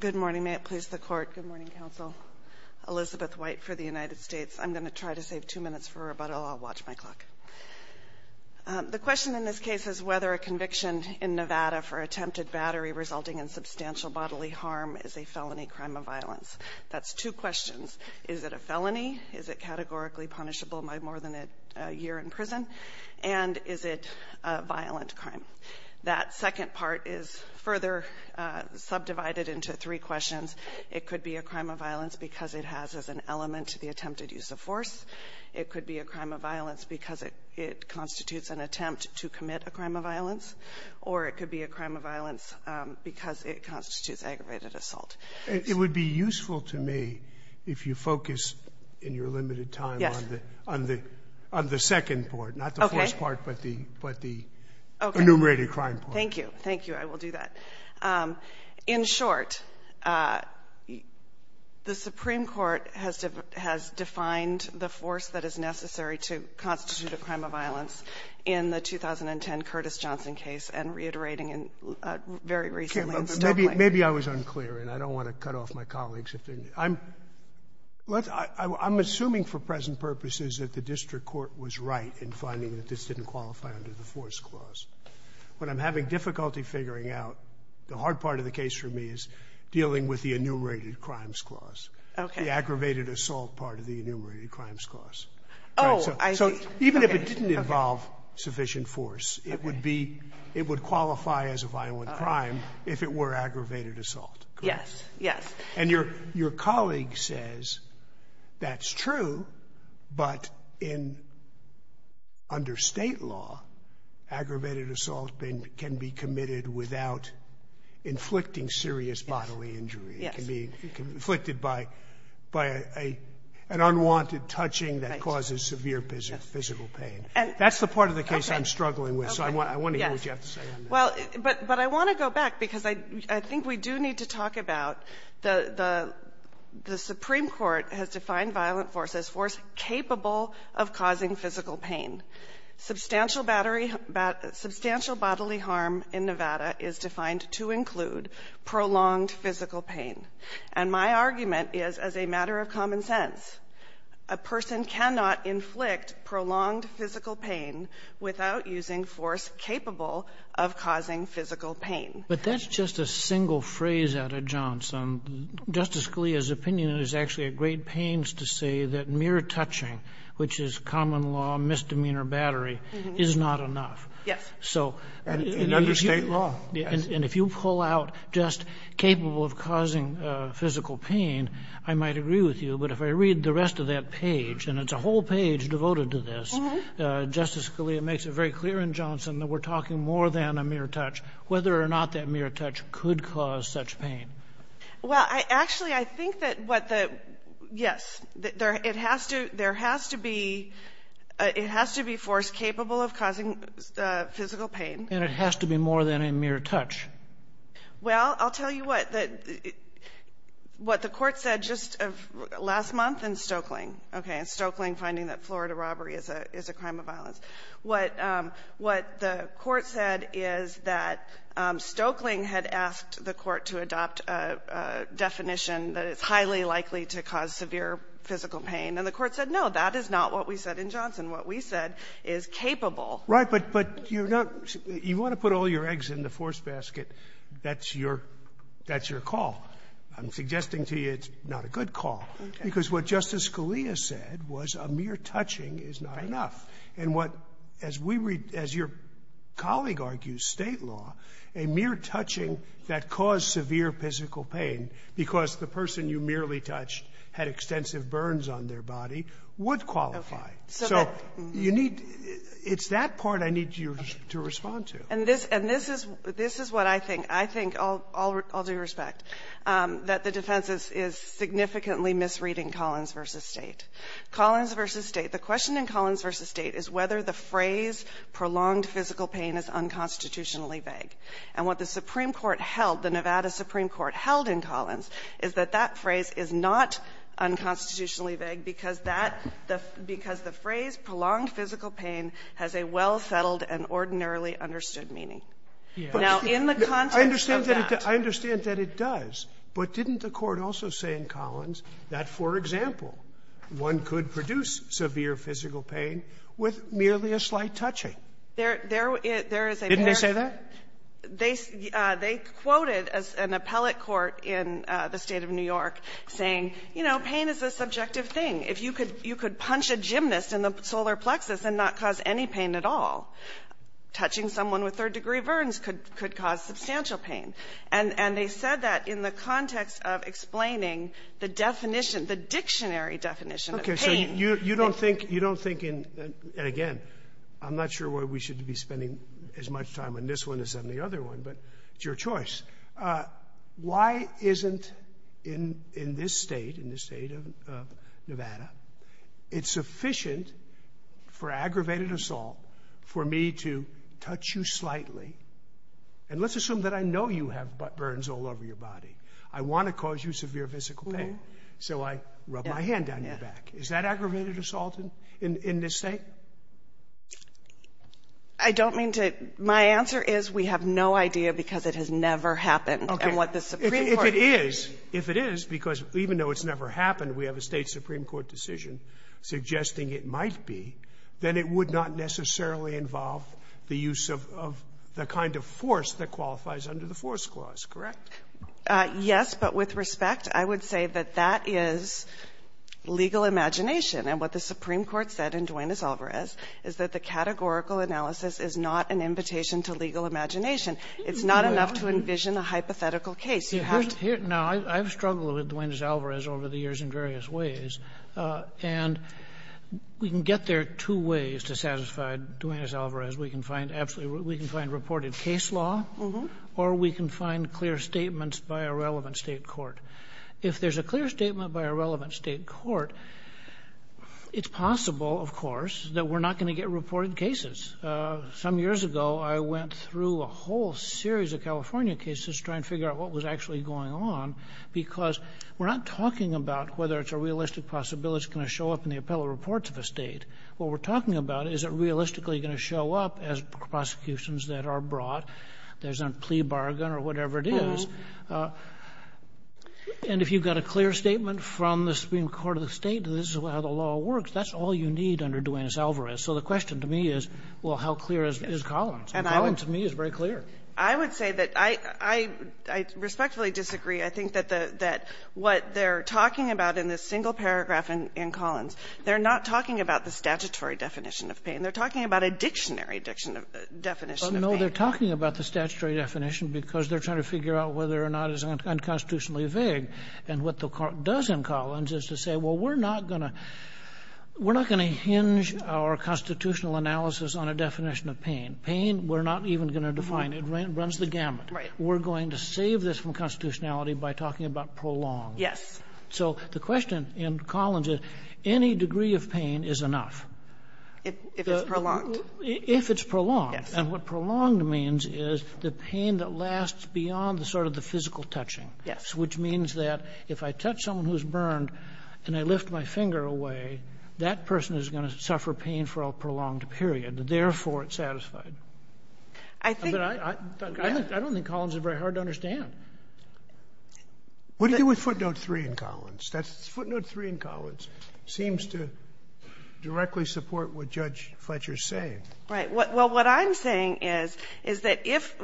Good morning. May it please the Court. Good morning, Counsel. Elizabeth White for the United States. I'm going to try to save two minutes for rebuttal. I'll watch my clock. The question in this case is whether a conviction in Nevada for attempted battery resulting in substantial bodily harm is a felony crime of violence. That's two questions. Is it a felony? Is it categorically punishable by more than a year in prison? And is it a violent crime? That second part is further subdivided into three questions. It could be a crime of violence because it has as an element the attempted use of force. It could be a crime of violence because it constitutes an attempt to commit a crime of violence. Or it could be a crime of violence because it constitutes aggravated assault. It would be useful to me if you focus in your limited time on the second part, not the first part, but the enumerated crime part. Okay. Thank you. Thank you. I will do that. In short, the Supreme Court has defined the force that is necessary to constitute a crime of violence in the 2010 Curtis Johnson case and reiterating very recently in Stokely. Maybe I was unclear, and I don't want to cut off my colleagues. I'm assuming for present purposes that the district court was right in finding that this didn't qualify under the force clause. When I'm having difficulty figuring out, the hard part of the case for me is dealing with the enumerated crimes clause. Okay. The aggravated assault part of the enumerated crimes clause. Oh, I see. So even if it didn't involve sufficient force, it would be – it would qualify as a violent crime if it were aggravated assault, correct? Yes. Yes. And your colleague says that's true, but in – under State law, aggravated assault can be committed without inflicting serious bodily injury. Yes. It can be inflicted by an unwanted touching that causes severe physical pain. That's the part of the case I'm struggling with, so I want to hear what you have to say on this. Well, but I want to go back, because I think we do need to talk about the Supreme Court has defined violent force as force capable of causing physical pain. Substantial bodily harm in Nevada is defined to include prolonged physical pain. And my argument is, as a matter of common sense, a person cannot inflict prolonged physical pain without using force capable of causing physical pain. But that's just a single phrase out of Johnson. Justice Scalia's opinion is actually a great painstaking to say that mere touching, which is common law misdemeanor battery, is not enough. Yes. And under State law, yes. And if you pull out just capable of causing physical pain, I might agree with you, but if I read the rest of that page, and it's a whole page devoted to this, Justice Scalia makes it very clear in Johnson that we're talking more than a mere touch, whether or not that mere touch could cause such pain. Well, actually, I think that what the yes, it has to be force capable of causing physical pain. And it has to be more than a mere touch. Well, I'll tell you what. What the Court said just last month in Stoeckling, okay, in Stoeckling finding that Florida robbery is a crime of violence. What the Court said is that Stoeckling had asked the Court to adopt a definition that it's highly likely to cause severe physical pain. And the Court said, no, that is not what we said in Johnson. What we said is capable. Right. But you're not you want to put all your eggs in the force basket. That's your call. I'm suggesting to you it's not a good call. Okay. Because what Justice Scalia said was a mere touching is not enough. Right. And what, as we read, as your colleague argues, State law, a mere touching that caused severe physical pain because the person you merely touched had extensive burns on their body would qualify. Okay. So you need to – it's that part I need you to respond to. And this is what I think. I think, all due respect, that the defense is significantly misreading Collins v. State. Collins v. State. The question in Collins v. State is whether the phrase prolonged physical pain is unconstitutionally vague. And what the Supreme Court held, the Nevada Supreme Court held in Collins, is that that phrase is not unconstitutionally vague because that – because the phrase prolonged physical pain has a well-settled and ordinarily understood meaning. Now, in the context of that – I understand that it does. But didn't the Court also say in Collins that, for example, one could produce severe physical pain with merely a slight touching? There is a – Didn't they say that? They – they quoted an appellate court in the State of New York saying, you know, pain is a subjective thing. If you could – you could punch a gymnast in the solar plexus and not cause any pain at all, touching someone with third-degree burns could cause substantial pain. And they said that in the context of explaining the definition, the dictionary definition of pain. Okay. So you don't think – you don't think in – and again, I'm not sure why we should be spending as much time on this one as on the other one, but it's your choice. Why isn't in this state, in the State of Nevada, it sufficient for aggravated assault for me to touch you slightly? And let's assume that I know you have burns all over your body. I want to cause you severe physical pain, so I rub my hand down your back. Is that aggravated assault in this State? I don't mean to – my answer is we have no idea because it has never happened. Okay. And what the Supreme Court – If it is, if it is, because even though it's never happened, we have a State supreme court decision suggesting it might be, then it would not necessarily involve the use of – of the kind of force that qualifies under the force clause, correct? Yes, but with respect, I would say that that is legal imagination. And what the Supreme Court said in Duenas-Alvarez is that the categorical analysis is not an invitation to legal imagination. It's not enough to envision a hypothetical case. You have to – Now, I've struggled with Duenas-Alvarez over the years in various ways, and we can get there two ways to satisfy Duenas-Alvarez. We can find absolutely – we can find reported case law, or we can find clear statements by a relevant State court. If there's a clear statement by a relevant State court, it's possible, of course, that we're not going to get reported cases. Some years ago, I went through a whole series of California cases to try and figure out what was actually going on because we're not talking about whether it's a realistic possibility it's going to show up in the appellate reports of a State. What we're talking about, is it realistically going to show up as prosecutions that are brought? There's a plea bargain or whatever it is. And if you've got a clear statement from the Supreme Court of the State, this is how the law works, that's all you need under Duenas-Alvarez. So the question to me is, well, how clear is Collins? And Collins, to me, is very clear. I would say that I – I respectfully disagree. I think that the – that what they're talking about in this single paragraph in Collins, they're not talking about the statutory definition of pain. They're talking about a dictionary definition of pain. No, they're talking about the statutory definition because they're trying to figure out whether or not it's unconstitutionally vague. And what the court does in Collins is to say, well, we're not going to – we're not going to hinge our constitutional analysis on a definition of pain. Pain, we're not even going to define. It runs the gamut. Right. We're going to save this from constitutionality by talking about prolonged. Yes. So the question in Collins is, any degree of pain is enough. If it's prolonged. If it's prolonged. Yes. And what prolonged means is the pain that lasts beyond the sort of the physical touching. Yes. Which means that if I touch someone who's burned and I lift my finger away, that person is going to suffer pain for a prolonged period. Therefore, it's satisfied. I think – I don't think Collins is very hard to understand. What do you do with footnote 3 in Collins? Footnote 3 in Collins seems to directly support what Judge Fletcher is saying. Right. Well, what I'm saying is, is that if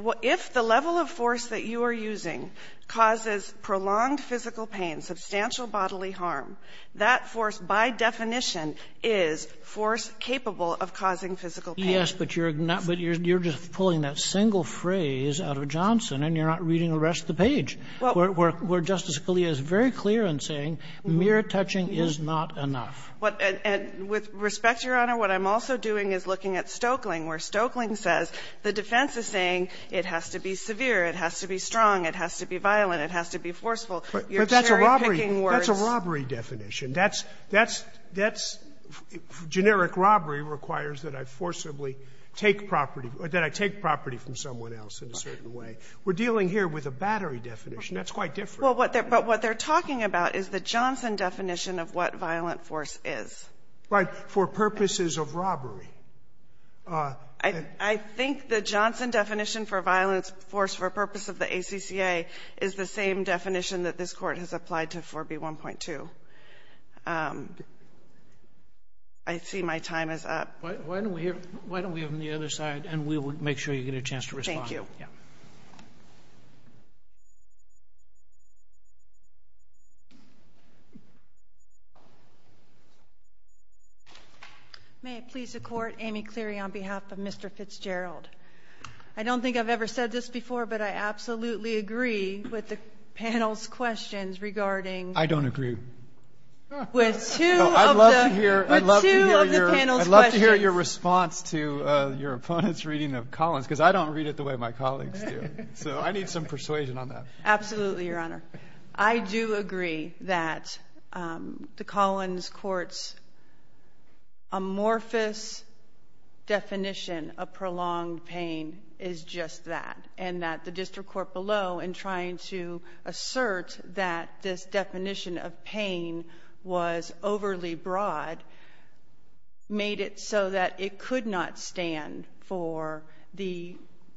the level of force that you are using causes prolonged physical pain, substantial bodily harm, that force by definition is force capable of causing physical pain. Yes, but you're just pulling that single phrase out of Johnson and you're not reading the rest of the page, where Justice Scalia is very clear in saying mere touching is not enough. With respect, Your Honor, what I'm also doing is looking at Stokeling, where Stokeling says the defense is saying it has to be severe, it has to be strong, it has to be violent, it has to be forceful. But that's a robbery definition. That's generic robbery requires that I forcibly take property – that I take property from someone else in a certain way. We're dealing here with a battery definition. That's quite different. Well, what they're – but what they're talking about is the Johnson definition of what violent force is. Right. For purposes of robbery. I think the Johnson definition for violent force for purpose of the ACCA is the same definition that this Court has applied to 4B1.2. I see my time is up. Why don't we hear – why don't we have them on the other side, and we will make sure you get a chance to respond. Thank you. Thank you. May it please the Court, Amy Cleary on behalf of Mr. Fitzgerald. I don't think I've ever said this before, but I absolutely agree with the panel's questions regarding – I don't agree. With two of the – I'd love to hear – With two of the panel's questions. I'd love to hear your response to your opponent's reading of Collins, because I don't read it the way my colleagues do, so I need some persuasion on that. Absolutely, Your Honor. I do agree that the Collins Court's amorphous definition of prolonged pain is just that, and that the district court below, in trying to assert that this definition of pain was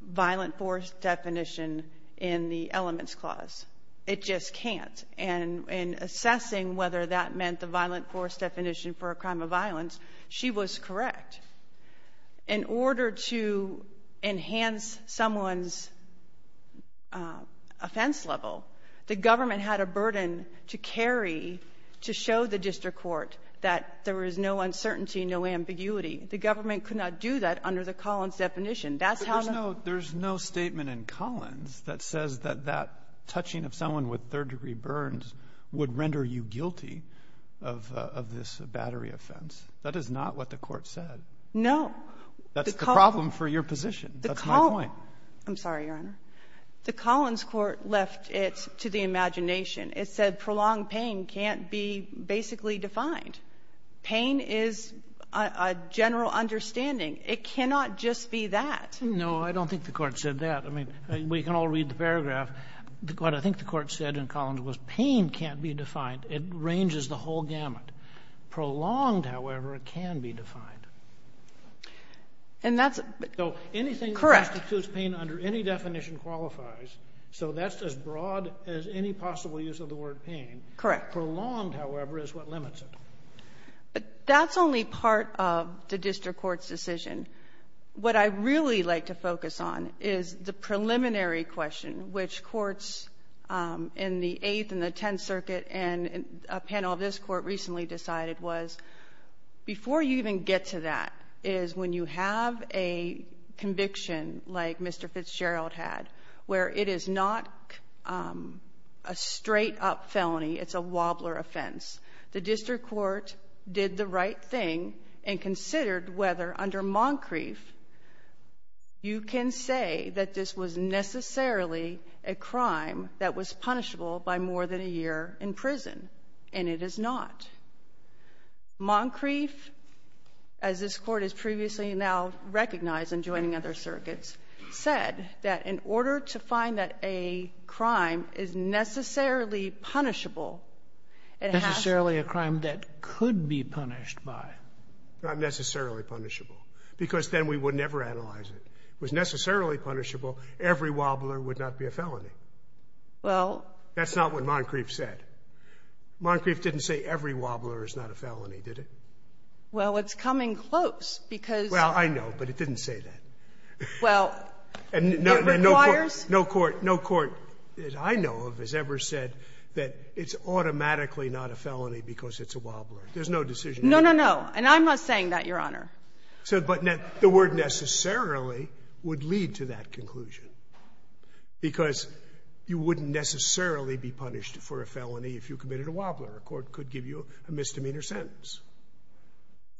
violent force definition in the elements clause. It just can't. And in assessing whether that meant the violent force definition for a crime of violence, she was correct. In order to enhance someone's offense level, the government had a burden to carry to show the district court that there was no uncertainty, no ambiguity. The government could not do that under the Collins definition. That's how the – But there's no statement in Collins that says that that touching of someone with third-degree burns would render you guilty of this battery offense. That is not what the Court said. No. That's the problem for your position. That's my point. The – I'm sorry, Your Honor. The Collins Court left it to the imagination. It said prolonged pain can't be basically defined. Pain is a general understanding. It cannot just be that. No. I don't think the Court said that. I mean, we can all read the paragraph. What I think the Court said in Collins was pain can't be defined. It ranges the whole gamut. Prolonged, however, can be defined. And that's – So anything that constitutes pain under any definition qualifies. So that's as broad as any possible use of the word pain. Correct. Prolonged, however, is what limits it. But that's only part of the district court's decision. What I really like to focus on is the preliminary question, which courts in the Eighth and the Tenth Circuit and a panel of this Court recently decided was, before you even get to that, is when you have a conviction like Mr. Fitzgerald had, where it is not a straight-up felony, it's a wobbler offense, the district court did the right thing and considered whether under Moncrief, you can say that this was necessarily a crime that was punishable by more than a year in prison. And it is not. Moncrief, as this Court has previously now recognized in joining other circuits, said that in order to find that a crime is necessarily punishable, it has to – Necessarily a crime that could be punished by. Not necessarily punishable, because then we would never analyze it. If it was necessarily punishable, every wobbler would not be a felony. Well – That's not what Moncrief said. Moncrief didn't say every wobbler is not a felony, did it? Well, it's coming close, because – Well, I know, but it didn't say that. Well, it requires – And no court – no court that I know of has ever said that it's automatically not a felony because it's a wobbler. There's no decision – No, no, no. And I'm not saying that, Your Honor. So – but the word necessarily would lead to that conclusion, because you wouldn't necessarily be punished for a felony if you committed a wobbler. A court could give you a misdemeanor sentence.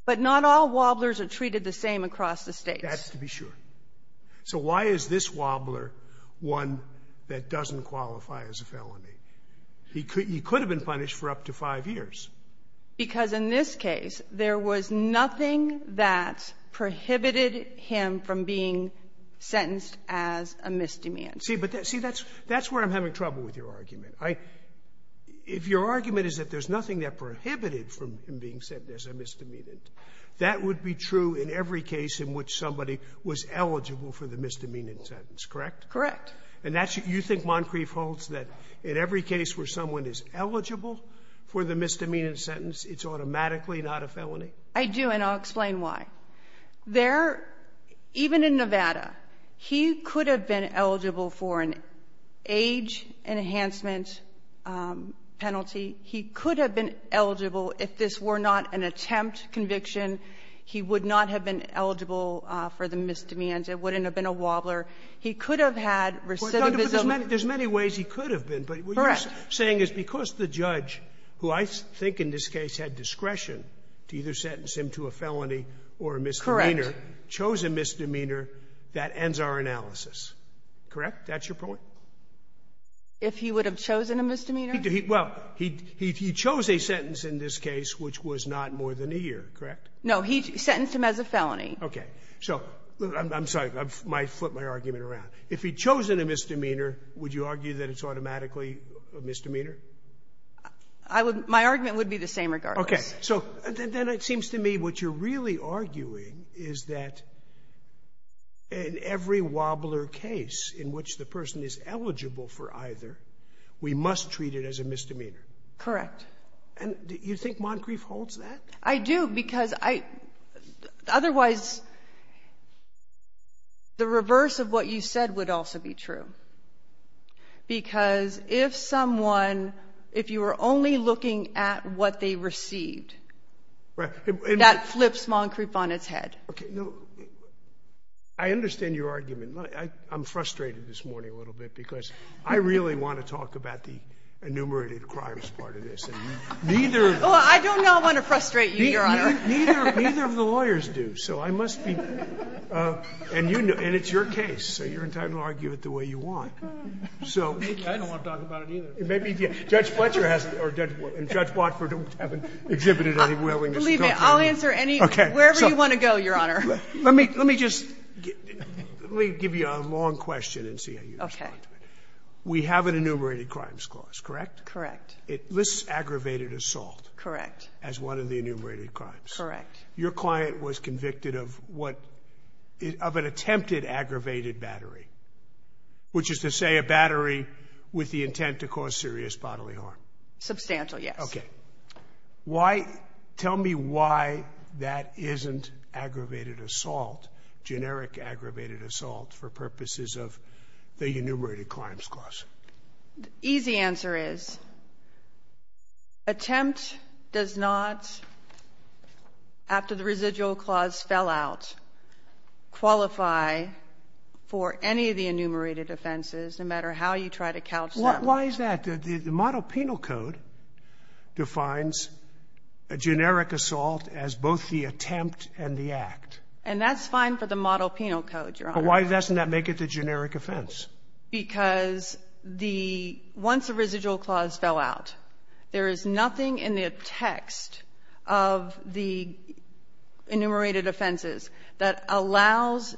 But not all wobblers are treated the same across the States. That's to be sure. So why is this wobbler one that doesn't qualify as a felony? He could have been punished for up to five years. Because in this case, there was nothing that prohibited him from being sentenced as a misdemeanor. See, but that's – see, that's where I'm having trouble with your argument. I – if your argument is that there's nothing that prohibited from him being sentenced as a misdemeanor, that would be true in every case in which somebody was eligible for the misdemeanor sentence, correct? Correct. And that's – you think Moncrief holds that in every case where someone is eligible for the misdemeanor sentence, it's automatically not a felony? I do, and I'll explain why. There – even in Nevada, he could have been eligible for an age-enhancement penalty. He could have been eligible if this were not an attempt conviction. He would not have been eligible for the misdemeanor. It wouldn't have been a wobbler. He could have had recidivism. There's many ways he could have been. Correct. What you're saying is because the judge, who I think in this case had discretion to either sentence him to a felony or a misdemeanor, chose a misdemeanor, that ends our analysis, correct? That's your point? If he would have chosen a misdemeanor? Well, he chose a sentence in this case which was not more than a year, correct? No. He sentenced him as a felony. Okay. So I'm sorry. I flipped my argument around. If he'd chosen a misdemeanor, would you argue that it's automatically a misdemeanor? I would – my argument would be the same regardless. Okay. So then it seems to me what you're really arguing is that in every wobbler case in which the person is eligible for either, we must treat it as a misdemeanor. Correct. And do you think Moncrief holds that? I do because I – otherwise, the reverse of what you said would also be true. Because if someone – if you were only looking at what they received, that flips Moncrief on its head. Okay. No. I understand your argument. I'm frustrated this morning a little bit because I really want to talk about the enumerated crimes part of this. And neither – Well, I don't want to frustrate you, Your Honor. Neither of the lawyers do, so I must be – and it's your case, so you're entitled to argue it the way you want. Thank you. I don't want to talk about it either. Judge Fletcher hasn't – and Judge Watford hasn't exhibited any willingness to talk about it. Believe me, I'll answer any – wherever you want to go, Your Honor. Let me just – let me give you a long question and see how you respond to it. Okay. We have an enumerated crimes clause, correct? Correct. It lists aggravated assault. Correct. As one of the enumerated crimes. Correct. Your client was convicted of what – of an attempted aggravated battery, which is to say a battery with the intent to cause serious bodily harm. Substantial, yes. Okay. Why – tell me why that isn't aggravated assault, generic aggravated assault, for purposes of the enumerated crimes clause. The easy answer is attempt does not, after the residual clause fell out, qualify for any of the enumerated offenses, no matter how you try to couch them. Why is that? The model penal code defines a generic assault as both the attempt and the act. And that's fine for the model penal code, Your Honor. But why doesn't that make it the generic offense? Because the – once the residual clause fell out, there is nothing in the text of the enumerated offenses that allows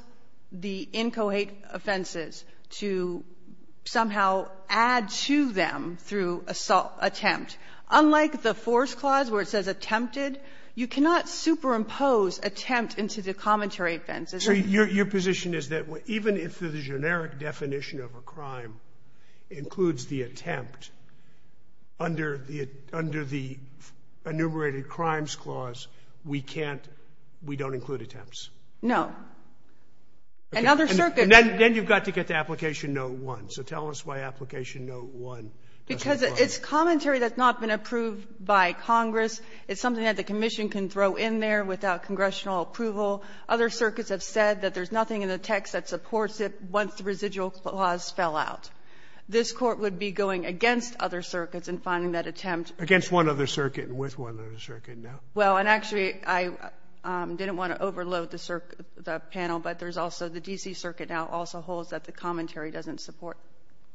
the inchoate offenses to somehow add to them through assault – attempt. Unlike the force clause, where it says attempted, you cannot superimpose attempt into the commentary offenses. So your position is that even if the generic definition of a crime includes the attempt under the enumerated crimes clause, we can't – we don't include attempts? No. And other circuits – Then you've got to get to Application Note 1. So tell us why Application Note 1 doesn't apply. Because it's commentary that's not been approved by Congress. It's something that the Commission can throw in there without congressional approval. Other circuits have said that there's nothing in the text that supports it once the residual clause fell out. This Court would be going against other circuits in finding that attempt. Against one other circuit and with one other circuit, no. Well, and actually, I didn't want to overload the panel, but there's also the D.C. Circuit now also holds that the commentary doesn't support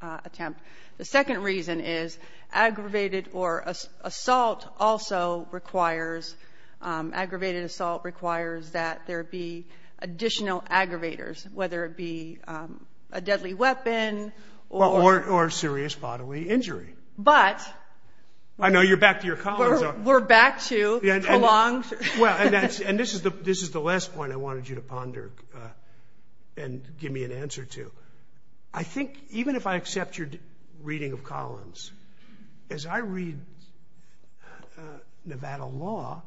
attempt. The second reason is aggravated or assault also requires – aggravated assault requires that there be additional aggravators, whether it be a deadly weapon or – Or serious bodily injury. But – I know you're back to your columns. We're back to the long – Well, and this is the last point I wanted you to ponder and give me an answer to. I think even if I accept your reading of Collins, as I read Nevada law,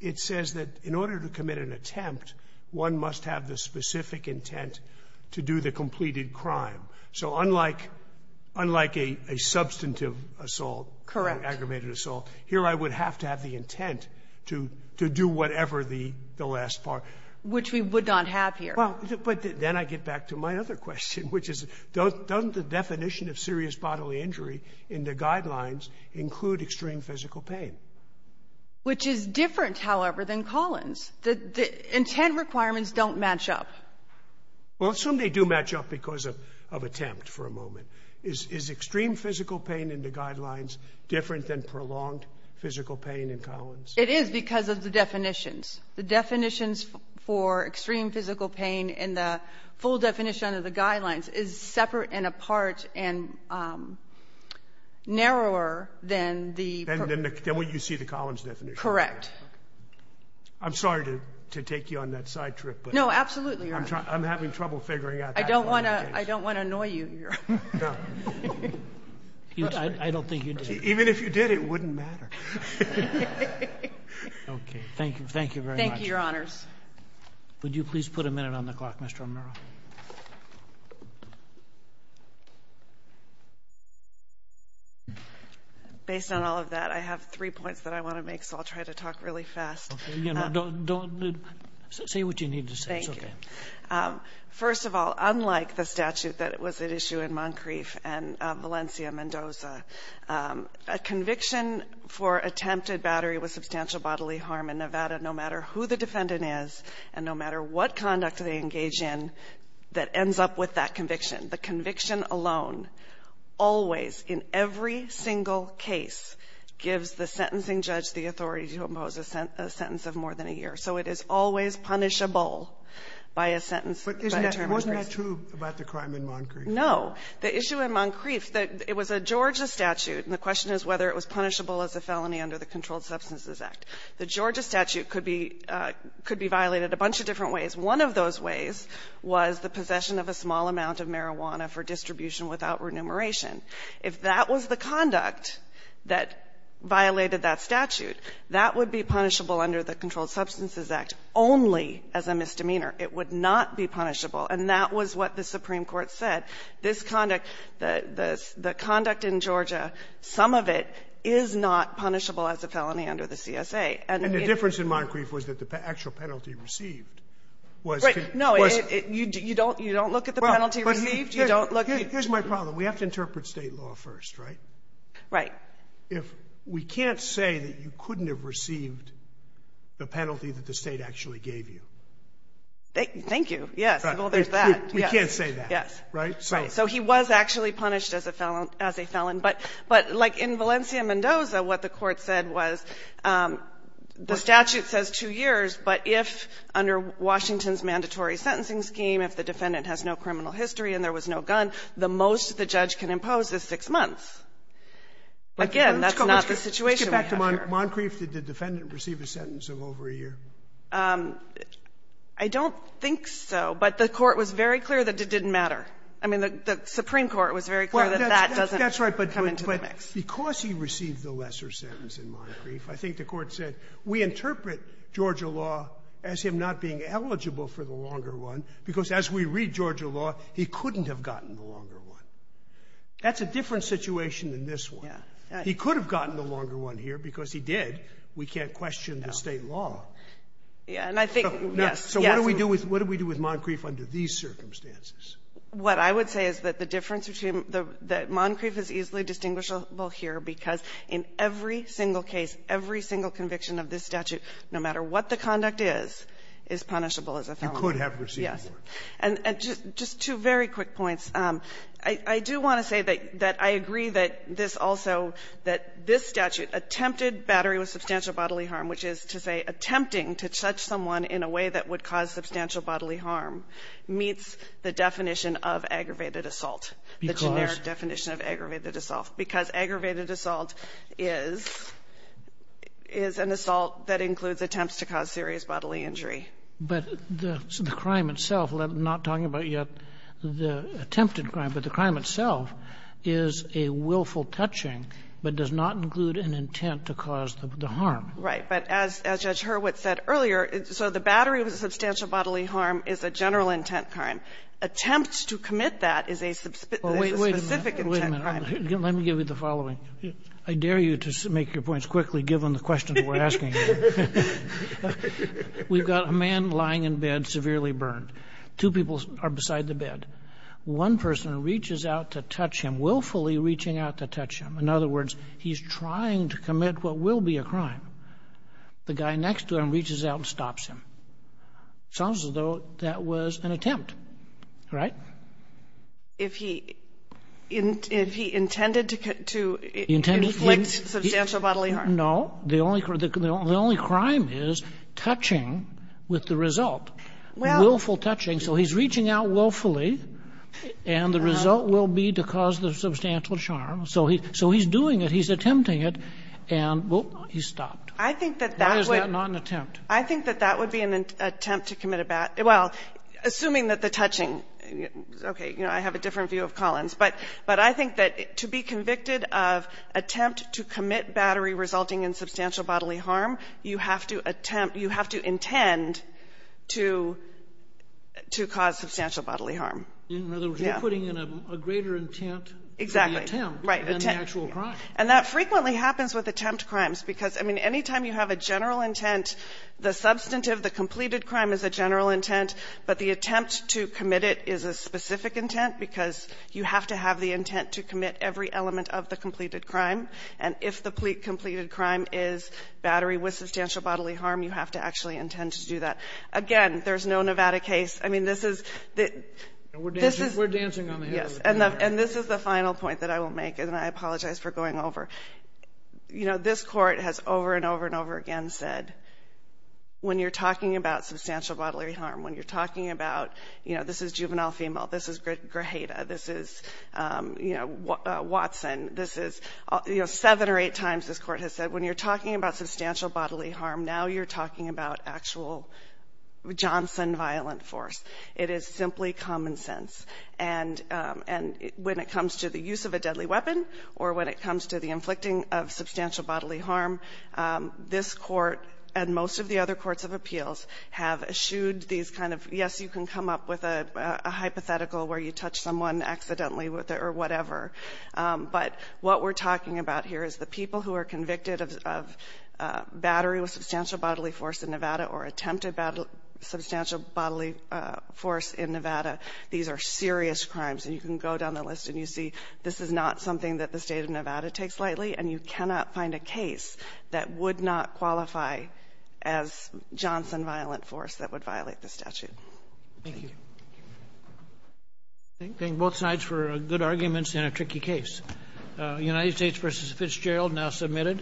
it says that in order to commit an attempt, one must have the specific intent to do the completed crime. So unlike – unlike a substantive assault or aggravated assault, here I would have to have the intent to do whatever the last part. Which we would not have here. Well, but then I get back to my other question, which is, doesn't the definition of serious bodily injury in the guidelines include extreme physical pain? Which is different, however, than Collins. The intent requirements don't match up. Well, I assume they do match up because of attempt for a moment. Is extreme physical pain in the guidelines different than prolonged physical pain in Collins? It is because of the definitions. The definitions for extreme physical pain in the full definition of the guidelines is separate and apart and narrower than the – than what you see the Collins definition. Correct. I'm sorry to take you on that side trip. No, absolutely, Your Honor. I'm having trouble figuring out that. I don't want to – I don't want to annoy you, Your Honor. No. I don't think you did. Even if you did, it wouldn't matter. Okay. Thank you. Thank you very much. Thank you, Your Honors. Would you please put a minute on the clock, Mr. O'Murrah? Based on all of that, I have three points that I want to make, so I'll try to talk really fast. Okay. Your Honor, don't – say what you need to say. Thank you. It's okay. First of all, unlike the statute that was at issue in Moncrief and Valencia, Mendoza, a conviction for attempted battery with substantial bodily harm in Nevada, that ends up with that conviction. The conviction alone always, in every single case, gives the sentencing judge the authority to impose a sentence of more than a year. So it is always punishable by a sentence. But isn't that true about the crime in Moncrief? No. The issue in Moncrief, it was a Georgia statute, and the question is whether it was punishable as a felony under the Controlled Substances Act. The Georgia statute could be violated a bunch of different ways. One of those ways was the possession of a small amount of marijuana for distribution without remuneration. If that was the conduct that violated that statute, that would be punishable under the Controlled Substances Act only as a misdemeanor. It would not be punishable. And that was what the Supreme Court said. This conduct, the conduct in Georgia, some of it is not punishable as a felony under the CSA. And the difference in Moncrief was that the actual penalty received was No. You don't look at the penalty received. You don't look Here's my problem. We have to interpret state law first, right? Right. We can't say that you couldn't have received the penalty that the state actually gave you. Thank you. Yes. Well, there's that. We can't say that. Yes. So he was actually punished as a felon. But like in Valencia-Mendoza, what the Court said was the statute says two years. But if under Washington's mandatory sentencing scheme, if the defendant has no criminal history and there was no gun, the most the judge can impose is six months. Again, that's not the situation we have here. Let's get back to Moncrief. Did the defendant receive a sentence of over a year? I don't think so. But the Court was very clear that it didn't matter. I mean, the Supreme Court was very clear that that doesn't matter. That's right. But because he received the lesser sentence in Moncrief, I think the Court said we interpret Georgia law as him not being eligible for the longer one, because as we read Georgia law, he couldn't have gotten the longer one. That's a different situation than this one. Yeah. He could have gotten the longer one here, because he did. We can't question the state law. And I think, yes. So what do we do with Moncrief under these circumstances? What I would say is that the difference between the Moncrief is easily distinguishable here, because in every single case, every single conviction of this statute, no matter what the conduct is, is punishable as a felon. You could have received more. Yes. And just two very quick points. I do want to say that I agree that this also, that this statute attempted battery with substantial bodily harm, which is to say attempting to judge someone in a way that would cause substantial bodily harm, meets the definition of aggravated assault, the generic definition of aggravated assault. Because aggravated assault is an assault that includes attempts to cause serious bodily injury. But the crime itself, not talking about yet the attempted crime, but the crime itself is a willful touching, but does not include an intent to cause the harm. Right. But as Judge Hurwitz said earlier, so the battery of substantial bodily harm is a general intent crime. Attempt to commit that is a specific intent crime. Wait a minute. Let me give you the following. I dare you to make your points quickly, given the questions we're asking. We've got a man lying in bed, severely burned. Two people are beside the bed. One person reaches out to touch him, willfully reaching out to touch him. In other words, he's trying to commit what will be a crime. The guy next to him reaches out and stops him. Sounds as though that was an attempt. Right? If he intended to inflict substantial bodily harm. No. The only crime is touching with the result. Willful touching. So he's reaching out willfully, and the result will be to cause the substantial harm. So he's doing it. He's attempting it. And he stopped. Why is that not an attempt? I think that that would be an attempt to commit a bad – well, assuming that the touching – okay. You know, I have a different view of Collins. But I think that to be convicted of attempt to commit battery resulting in substantial bodily harm, you have to attempt, you have to intend to cause substantial bodily harm. In other words, you're putting in a greater intent for the attempt than the actual And that frequently happens with attempt crimes, because, I mean, any time you have a general intent, the substantive, the completed crime is a general intent. But the attempt to commit it is a specific intent, because you have to have the intent to commit every element of the completed crime. And if the completed crime is battery with substantial bodily harm, you have to actually intend to do that. Again, there's no Nevada case. I mean, this is the – this is – We're dancing on the head of the camera. And this is the final point that I will make. And I apologize for going over. You know, this Court has over and over and over again said, when you're talking about substantial bodily harm, when you're talking about, you know, this is juvenile female, this is Grajeda, this is, you know, Watson, this is – you know, seven or eight times this Court has said, when you're talking about substantial bodily harm, now you're talking about actual Johnson violent force. It is simply common sense. And when it comes to the use of a deadly weapon or when it comes to the inflicting of substantial bodily harm, this Court and most of the other courts of appeals have eschewed these kind of – yes, you can come up with a hypothetical where you touch someone accidentally or whatever. But what we're talking about here is the people who are convicted of battery with substantial bodily force in Nevada or attempted substantial bodily force in Nevada, these are serious crimes. And you can go down the list and you see this is not something that the State of Nevada takes lightly, and you cannot find a case that would not qualify as Johnson violent force that would violate the statute. Thank you. Thank you. Thank you. Thank both sides for good arguments in a tricky case. United States v. Fitzgerald now submitted.